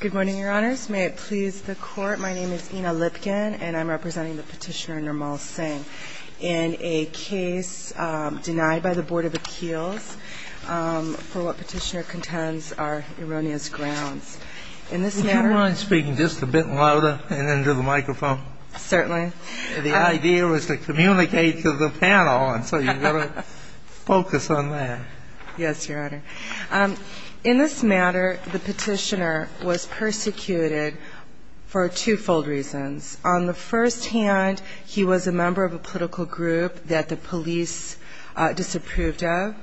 Good morning, Your Honors. May it please the Court, my name is Ina Lipkin, and I'm representing the Petitioner, Nirmal Singh, in a case denied by the Board of Appeals for what Petitioner contends are erroneous grounds. In this matter – Could you go on speaking just a bit louder and into the microphone? Certainly. The idea was to communicate to the panel, and so you've got to focus on that. Yes, Your Honor. In this matter, the Petitioner was persecuted for twofold reasons. On the first hand, he was a member of a political group that the police disapproved of,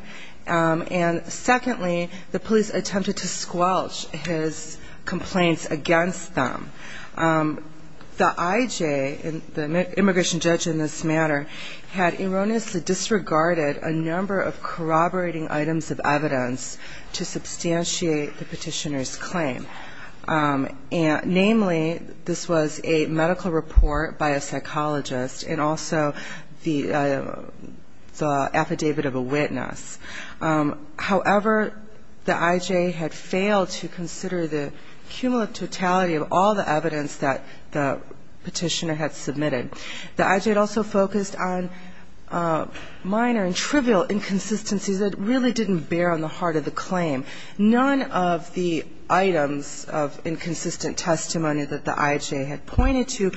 and secondly, the police attempted to squelch his complaints against them. The IJ, the immigration judge in this matter, had erroneously disregarded a number of corroborating items of evidence to substantiate the Petitioner's claim. Namely, this was a medical report by a psychologist and also the affidavit of a witness. However, the IJ had failed to consider the cumulative totality of all the evidence that the Petitioner had submitted. The IJ had also focused on minor and trivial inconsistencies that really didn't bear on the heart of the claim. None of the items of inconsistent testimony that the IJ had pointed to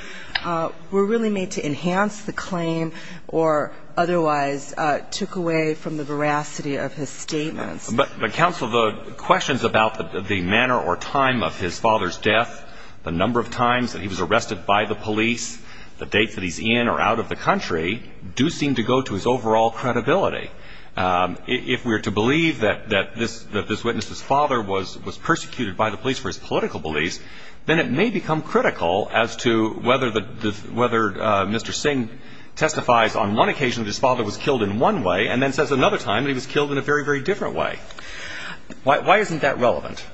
were really made to enhance the claim or otherwise took away from the veracity of his statements. But, Counsel, the questions about the manner or time of his father's death, the number of times that he was arrested by the police, the dates that he's in or out of the country do seem to go to his overall credibility. If we're to believe that this witness's father was persecuted by the police for his political beliefs, then it may become critical as to whether Mr. Singh testifies on one occasion that his father was killed in one way and then says another time that he was killed in a very, very different way. Why isn't that relevant?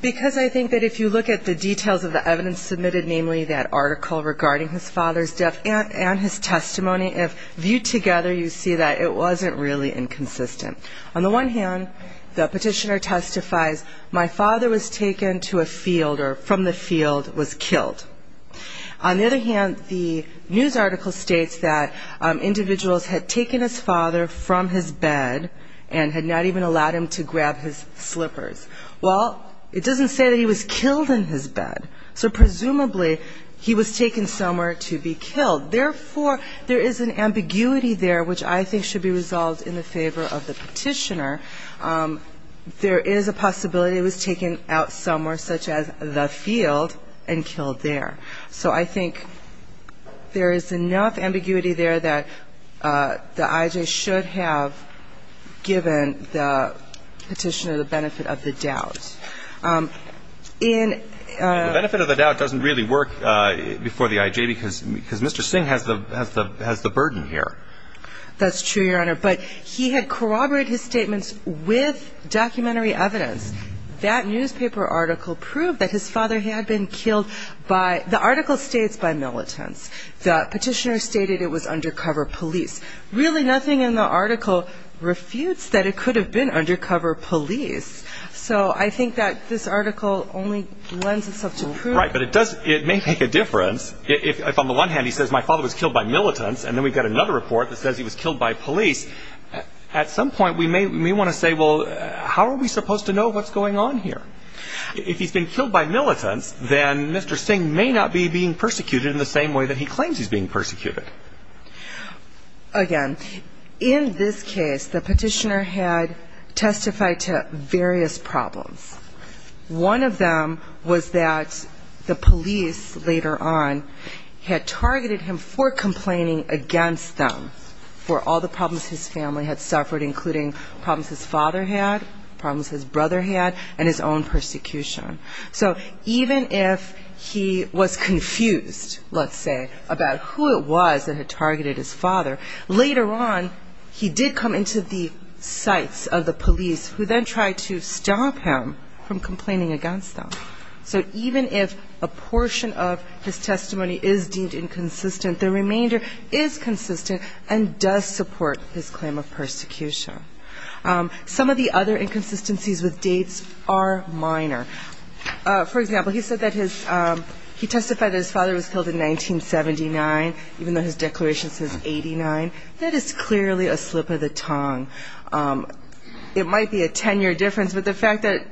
Because I think that if you look at the details of the evidence submitted, namely that article regarding his father's death and his testimony, if viewed together, you see that it wasn't really inconsistent. On the one hand, the Petitioner testifies my father was taken to a field or from the field was killed. On the other hand, the news article states that individuals had taken his father from his bed and had not even allowed him to grab his slippers. Well, it doesn't say that he was killed in his bed. So presumably, he was taken somewhere to be killed. Therefore, there is an ambiguity there which I think should be resolved in the favor of the Petitioner. There is a possibility he was taken out somewhere, such as the field, and killed there. So I think there is enough ambiguity there that the I.J. should have given the Petitioner the benefit of the doubt. The benefit of the doubt doesn't really work before the I.J. because Mr. Singh has the burden here. That's true, Your Honor. But he had corroborated his statements with documentary evidence. That newspaper article proved that his father had been killed. The article states by militants. The Petitioner stated it was undercover police. Really, nothing in the article refutes that it could have been undercover police. So I think that this article only lends itself to prove... Right, but it may make a difference if on the one hand he says my father was killed by militants and then we've got another report that says he was killed by police. At some point, what's going on here? If he's been killed by militants, then Mr. Singh may not be being persecuted in the same way that he claims he's being persecuted. Again, in this case, the Petitioner had testified to various problems. One of them was that the police later on had targeted him for complaining against them for all the problems his family had suffered, including problems his father had, problems his brother had, and his own persecution. So even if he was confused, let's say, about who it was that had targeted his father, later on he did come into the sights of the police who then tried to stop him from complaining against them. So even if a portion of his testimony is deemed inconsistent, the remainder is consistent and does support his claim of persecution. Some of the other inconsistencies with dates are minor. For example, he said that his... He testified that his father was killed in 1979, even though his declaration says 89. That is clearly a slip of the tongue. It might be a ten-year difference, but the fact that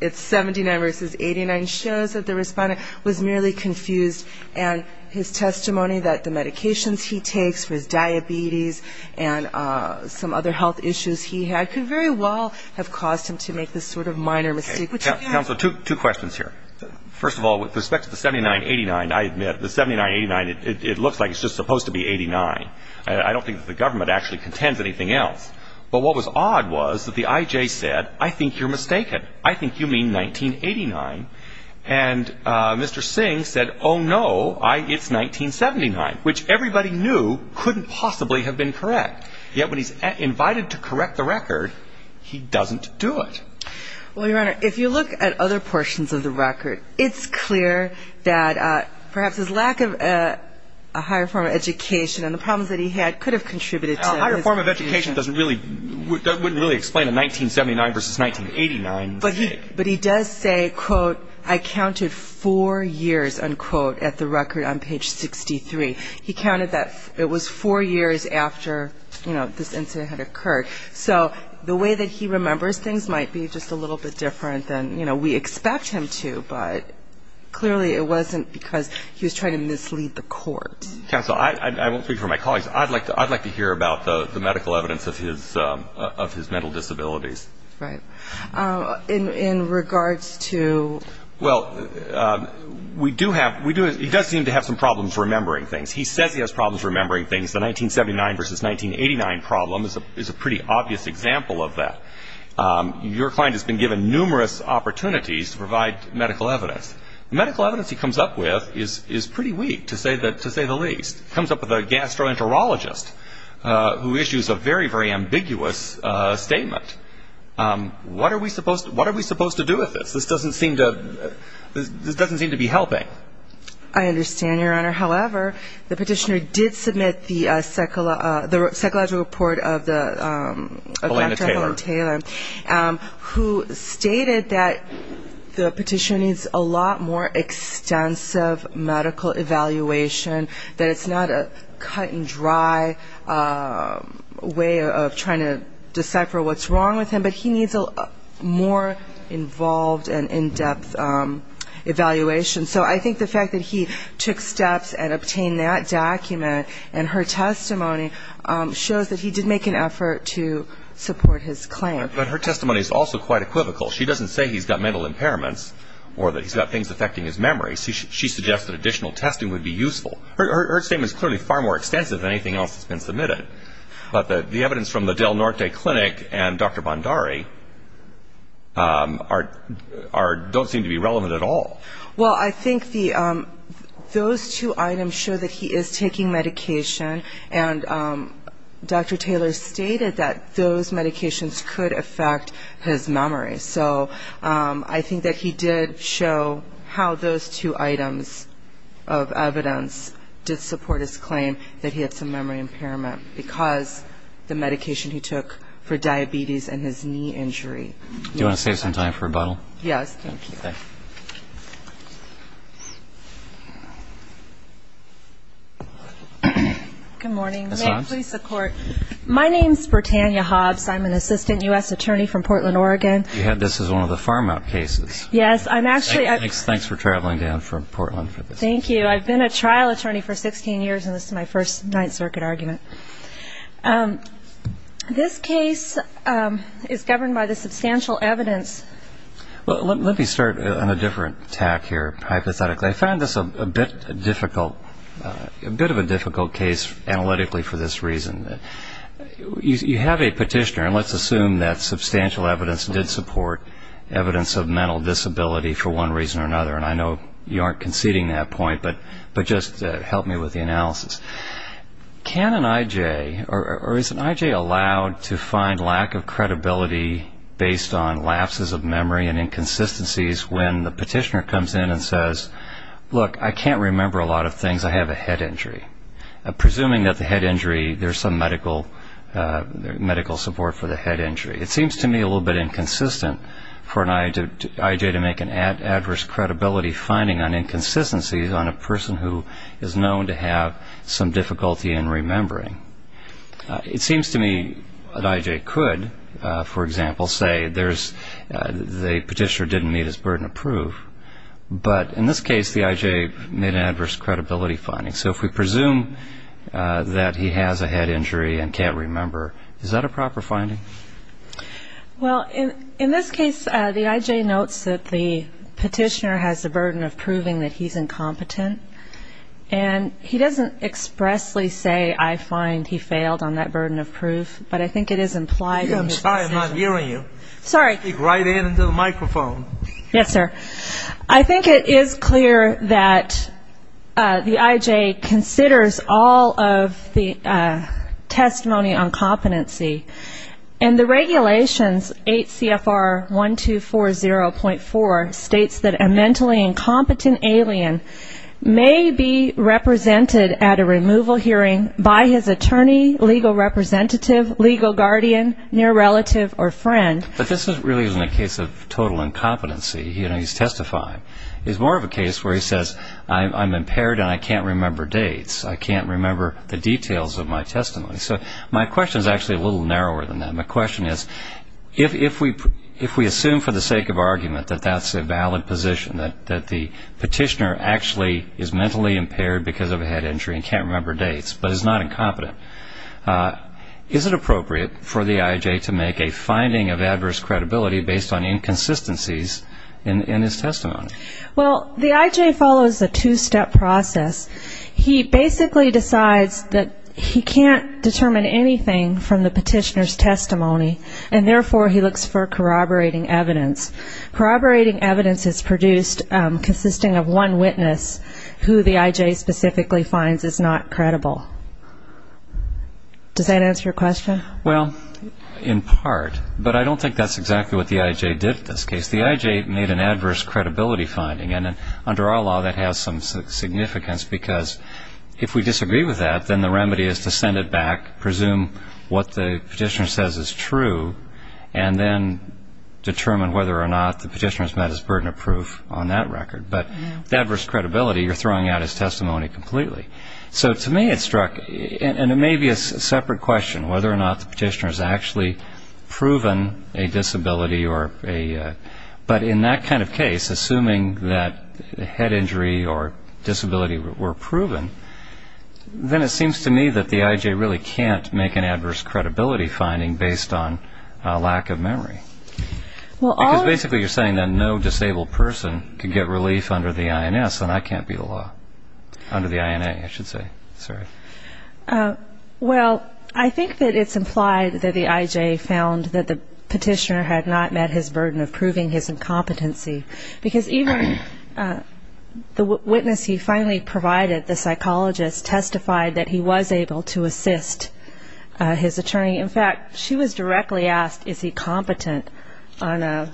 it's 79 versus 89 shows that the respondent was merely confused and his testimony that the medications he takes for his diabetes and some other health issues he had could very well have caused him to make this sort of minor mistake, which he didn't. Counsel, two questions here. First of all, with respect to the 79-89, I admit, the 79-89, it looks like it's just supposed to be 89. I don't think that the government actually contends anything else. But what was odd was that the I.J. said, I think you're mistaken. I think you mean 1989. And Mr. Singh said, oh, no, it's 1979, which everybody knew couldn't possibly have been correct. Yet when he's invited to correct the record, he doesn't do it. Well, Your Honor, if you look at other portions of the record, it's clear that perhaps his lack of a higher form of education and the problems that he had could have contributed to his... Form of education doesn't really, wouldn't really explain a 1979 versus 1989 mistake. But he does say, quote, I counted four years, unquote, at the record on page 63. He counted that it was four years after this incident had occurred. So the way that he remembers things might be just a little bit different than we expect him to. But clearly it wasn't because he was trying to mislead the court. Counsel, I won't speak for my colleagues. I'd like to hear about the medical evidence of his mental disabilities. In regards to... Well, we do have, he does seem to have some problems remembering things. He says he has problems remembering things. The 1979 versus 1989 problem is a pretty obvious example of that. Your client has been given numerous opportunities to provide medical evidence. Medical evidence he comes up with is pretty weak, to say the least. He comes up with a gastroenterologist who issues a very, very ambiguous statement. What are we supposed to do with this? This doesn't seem to be helping. I understand, Your Honor. However, the petitioner did submit the psychological report of Dr. The petitioner needs a lot more extensive medical evaluation. That it's not a cut and dry way of trying to decipher what's wrong with him. But he needs a more involved and in-depth evaluation. So I think the fact that he took steps and obtained that document and her testimony shows that he did make an effort to support his claim. But her testimony is also quite equivocal. She doesn't say he's got mental impairments or that he's got things affecting his memory. She suggests that additional testing would be useful. Her statement is clearly far more extensive than anything else that's been submitted. But the evidence from the Del Norte Clinic and Dr. Bondari don't seem to be relevant at all. Well, I think those two items show that he is taking medication. And Dr. Taylor stated that those medications could affect his memory. So I think that he did show how those two items of evidence did support his claim that he had some memory impairment. Because the medication he took for diabetes and his knee injury. Do you want to save some time for rebuttal? Yes, thank you. Okay. Good morning. May I please support? My name is Britannia Hobbs. I'm an assistant U.S. attorney from Portland, Oregon. This is one of the farm-out cases. Yes, I'm actually Thanks for traveling down from Portland for this. Thank you. I've been a trial attorney for 16 years and this is my first Ninth Circuit argument. This case is governed by the substantial evidence. Let me start on a different tack here, hypothetically. I found this a bit difficult, a bit of a difficult case analytically for this reason. You have a petitioner and let's assume that substantial evidence did support evidence of mental disability for one reason or another. And I know you aren't conceding that point, but just help me with the analysis. Can an I.J. or is an I.J. allowed to find lack of credibility based on lapses of memory and inconsistencies when the petitioner comes in and says, look, I can't remember a lot of things. I have a head injury. Presuming that the head injury, there's some medical support for the head injury. It seems to me a little bit inconsistent for an I.J. to make an adverse credibility finding on inconsistencies on a person who is known to have some difficulty in remembering. It seems to me an I.J. could, for example, say the petitioner didn't meet his burden of proof, but in this case the I.J. made an adverse credibility finding. So if we presume that he has a head injury and can't remember, is that a proper finding? Well, in this case the I.J. notes that the petitioner has the burden of proving that he's incompetent. And he doesn't expressly say I find he failed on that burden of proof, but I think it is implied in the decision. I'm sorry, I'm not hearing you. Sorry. Speak right in into the microphone. Yes, sir. I think it is clear that the I.J. considers all of the testimony on competency. And the regulations, 8 CFR 1240.4, states that a mentally incompetent alien may be represented at a removal hearing by his attorney, legal representative, legal guardian, near relative or friend. But this really isn't a case of total incompetency. He's testifying. It's more of a case where he says I'm impaired and I can't remember dates. I can't remember the details of my testimony. So my question is actually a little narrower than that. My question is if we assume for the sake of argument that that's a valid position, that the petitioner actually is mentally impaired because of a head injury and can't remember dates, but is not incompetent, is it appropriate for the I.J. to make a finding of adverse credibility based on inconsistencies in his testimony? Well, the I.J. follows a two-step process. He basically decides that he can't determine anything from the petitioner's testimony, and therefore he looks for corroborating evidence. Corroborating evidence is produced consisting of one witness who the I.J. specifically finds is not credible. Does that answer your question? Well, in part, but I don't think that's exactly what the I.J. did in this case. The I.J. made an adverse credibility finding, and under our law that has some significance because if we disagree with that, then the remedy is to send it back, presume what the petitioner says is true, and then determine whether or not the petitioner has met his burden of proof on that record. But the adverse credibility, you're throwing out his testimony completely. So to me it struck, and it may be a separate question, whether or not the petitioner has actually proven a disability, but in that kind of case, assuming that a head injury or disability were proven, then it seems to me that the I.J. really can't make an adverse credibility finding based on lack of memory. Because basically you're saying that no disabled person can get relief under the I.N.S., and that can't be the law. Under the I.N.A., I should say. Sorry. Well, I think that it's implied that the I.J. found that the petitioner had not met his burden of proving his incompetency. Because even the witness he finally provided, the psychologist, testified that he was able to assist his attorney. In fact, she was directly asked is he competent on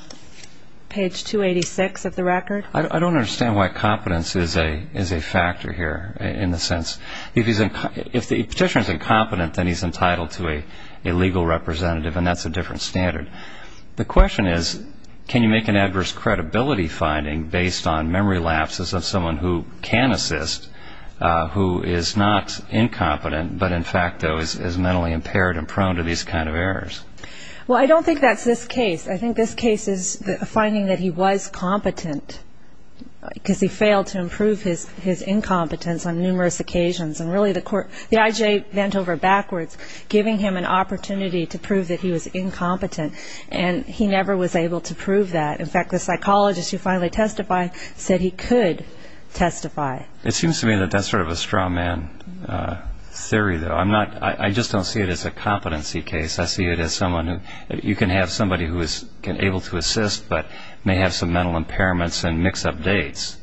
page 286 of the record. I don't understand why competence is a factor here, in the sense, if the petitioner is incompetent, then he's entitled to a legal representative, and that's a different standard. The question is, can you make an adverse credibility finding based on memory lapses of someone who can assist, who is not incompetent, but in fact, though, is mentally impaired and prone to these kind of errors? Well, I don't think that's this case. I think this case is a finding that he was competent, because he failed to improve his incompetence on numerous occasions. And really, the I.J. bent over backwards, giving him an opportunity to prove that he was incompetent, and he never was able to prove that. In fact, the psychologist who finally testified said he could testify. It seems to me that that's sort of a straw man theory, though. I just don't see it as a case where you can have somebody who is able to assist, but may have some mental impairments and mix up dates.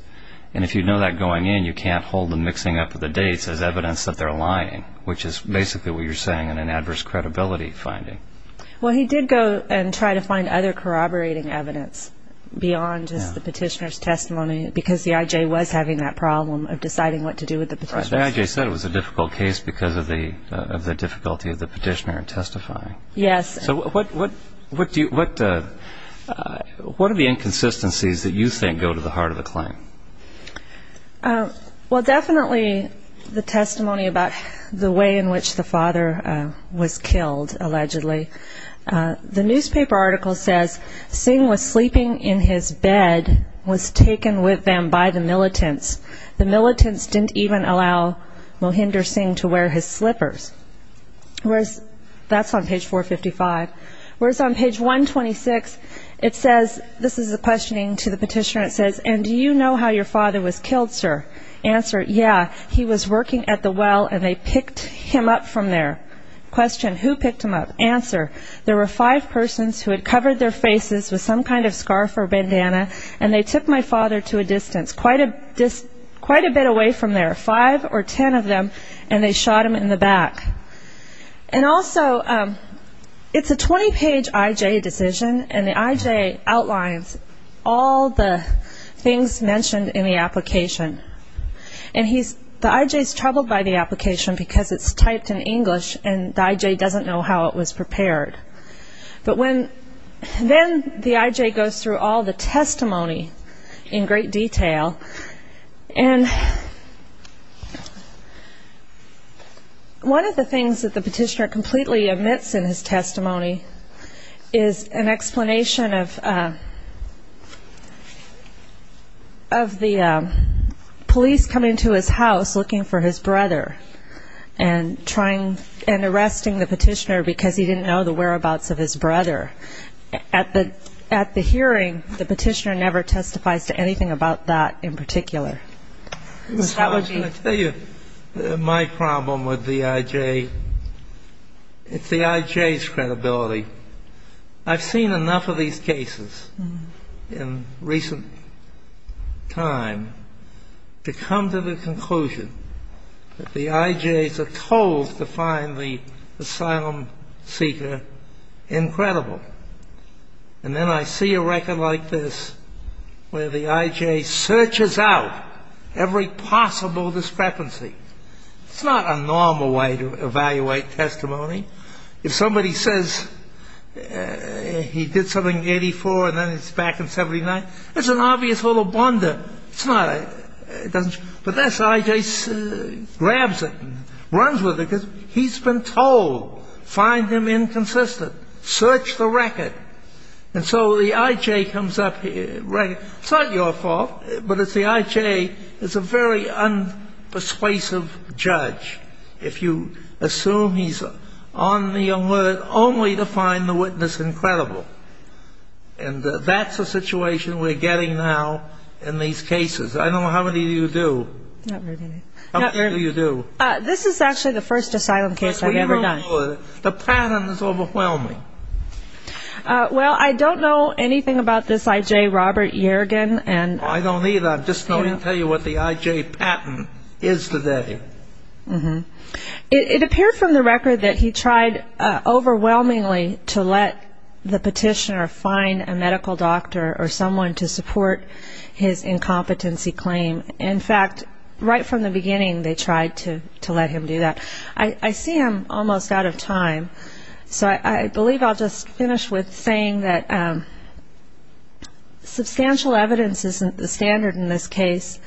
And if you know that going in, you can't hold the mixing up of the dates as evidence that they're lying, which is basically what you're saying in an adverse credibility finding. Well, he did go and try to find other corroborating evidence beyond just the petitioner's testimony, because the I.J. was having that problem of deciding what to do with the petitioner's testimony. As the I.J. said, it was a difficult case because of the difficulty of the petitioner in testifying. Yes. So what are the inconsistencies that you think go to the heart of the claim? Well, definitely the testimony about the way in which the father was killed, allegedly. The newspaper article says, Singh was sleeping in his bed, was taken with them by the militants. The militants didn't even allow Mohinder Singh to wear his slippers. That's on page 455. Whereas on page 126, it says, this is a questioning to the petitioner, it says, and do you know how your father was killed, sir? Answer, yeah, he was working at the well and they picked him up from there. Question, who picked him up? Answer, there were five persons who had covered their faces with some kind of scarf or bandana and they took my father to a distance, quite a bit away from there, five or ten of them, and they shot him in the back. And also, it's a 20-page I.J. decision and the I.J. outlines all the things mentioned in the application. And the I.J. is troubled by the application because it's typed in English and the I.J. doesn't know how it was prepared. But when then the I.J. goes through all the testimony in great detail, and one of the things that the petitioner completely omits in his testimony is an explanation of the police coming to his house looking for his brother and arresting the petitioner because he didn't know the whereabouts of his brother. At the hearing, the petitioner never testifies to anything about that in particular. So that would be my problem with the I.J. It's the I.J.'s credibility. I've seen enough of these cases in recent time to come to the conclusion that the I.J.'s are told to find the asylum seeker incredible. And then I see a record like this where the I.J. searches out every possible discrepancy. It's not a normal way to evaluate testimony. If somebody says he did something in 84 and then he's back in 79, that's an obvious little blunder. But this I.J. grabs it, runs with it, because he's been told, find him inconsistent, search the record. And so the I.J. comes up, it's not your fault, but the I.J. is a very unpersuasive judge. If you assume he's on the alert only to find the witness incredible. And that's the situation we're getting now in these cases. I don't know how many of you do. How many of you do? This is actually the first asylum case I've ever done. The pattern is overwhelming. Well, I don't know anything about this I.J. Robert Yergin. I don't either. I'm just going to tell you what the I.J. pattern is today. It appeared from the record that he tried overwhelmingly to let the petitioner find a medical doctor or someone to support his incompetency claim. In fact, right from the beginning, they tried to let him do that. I see I'm almost out of time, so I believe I'll just finish with saying that substantial evidence isn't the standard in this case.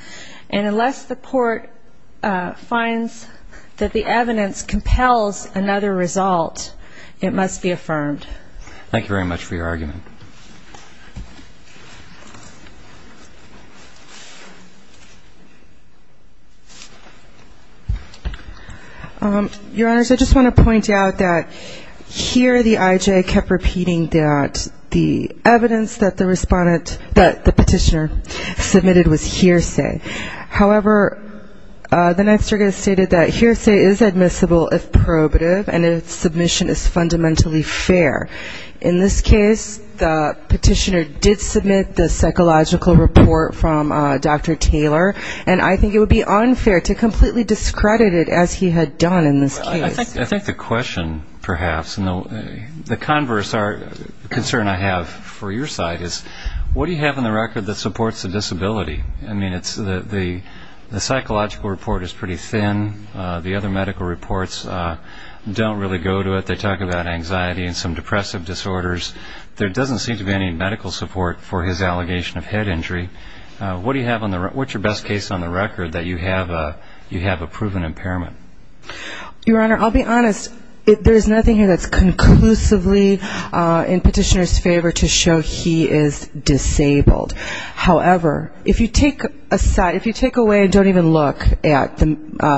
And unless the court finds that the evidence compels another result, it must be affirmed. Thank you very much for your argument. Your Honors, I just want to point out that here the I.J. kept repeating that the evidence that the petitioner submitted was hearsay. However, the next argument stated that hearsay is admissible if probative and its submission is fundamentally fair. In this case, the petitioner did submit the psychological report from Dr. Taylor, and I think it would be unfair to completely discredit it as he had done in this case. I think the question perhaps, and the converse concern I have for your side, is what do you have in the record that supports the disability? I mean, the psychological report is pretty thin. The other medical reports don't really go to it. They talk about anxiety and some depressive disorders. There doesn't seem to be any medical support for his allegation of head injury. What's your best case on the record that you have a proven impairment? Your Honor, I'll be honest. There's nothing here that's conclusively in petitioner's favor to show he is disabled. However, if you take away and don't even look at the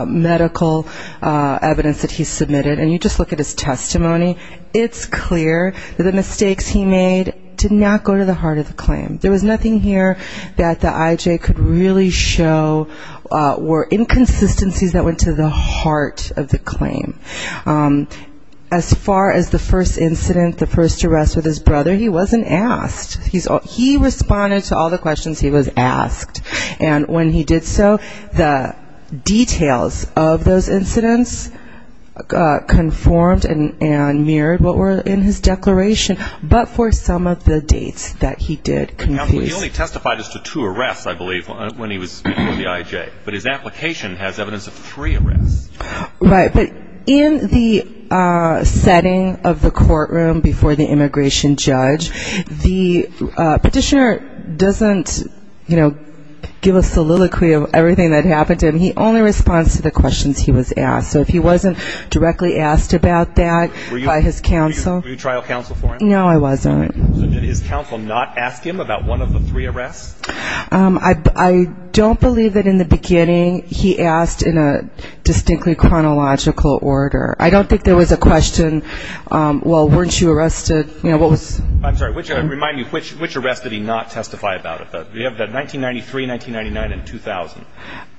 medical evidence that he submitted, and you just look at his testimony, it's clear that the mistakes he made did not go to the heart of the claim. There was nothing here that the IJ could really show were inconsistencies that went to the heart of the claim. As far as the first incident, the first arrest with his brother, he wasn't asked. He responded to all the questions he was asked, and when he did so, the details of those incidents conformed and mirrored what were in his declaration, but for some of the dates that he did confuse. He only testified as to two arrests, I believe, when he was before the IJ. But his application has evidence of three arrests. Right, but in the setting of the courtroom before the immigration judge, the petitioner doesn't, you know, he only responds to the questions he was asked, so if he wasn't directly asked about that by his counsel. Were you trial counsel for him? No, I wasn't. Did his counsel not ask him about one of the three arrests? I don't believe that in the beginning he asked in a distinctly chronological order. I don't think there was a question, well, weren't you arrested, you know, what was... I'm sorry, remind me, which arrests did he not testify about? We have the 1993, 1999, and 2000.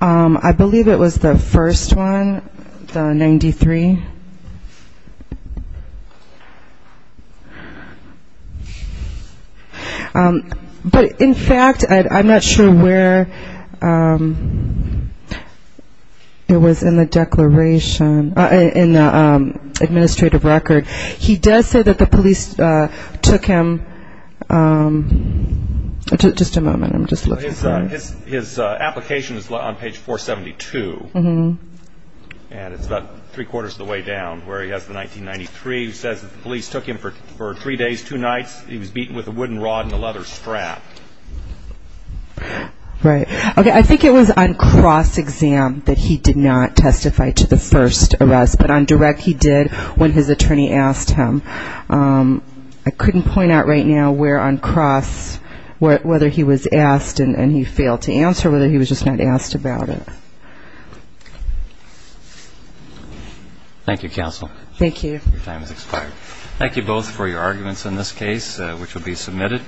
I believe it was the first one, the 93. But in fact, I'm not sure where it was in the declaration. In the administrative record, he does say that the police took him... Just a moment, I'm just looking for it. His application is on page 472, and it's about three-quarters of the way down where he has the 1993. He says that the police took him for three days, two nights. He was beaten with a wooden rod and a leather strap. Right. Okay, I think it was on cross-exam that he did not testify to the first arrest, but on direct he did when his attorney asked him. I couldn't point out right now where on cross, whether he was asked and he failed to answer or whether he was just not asked about it. Thank you, counsel. Thank you both for your arguments in this case, which will be submitted.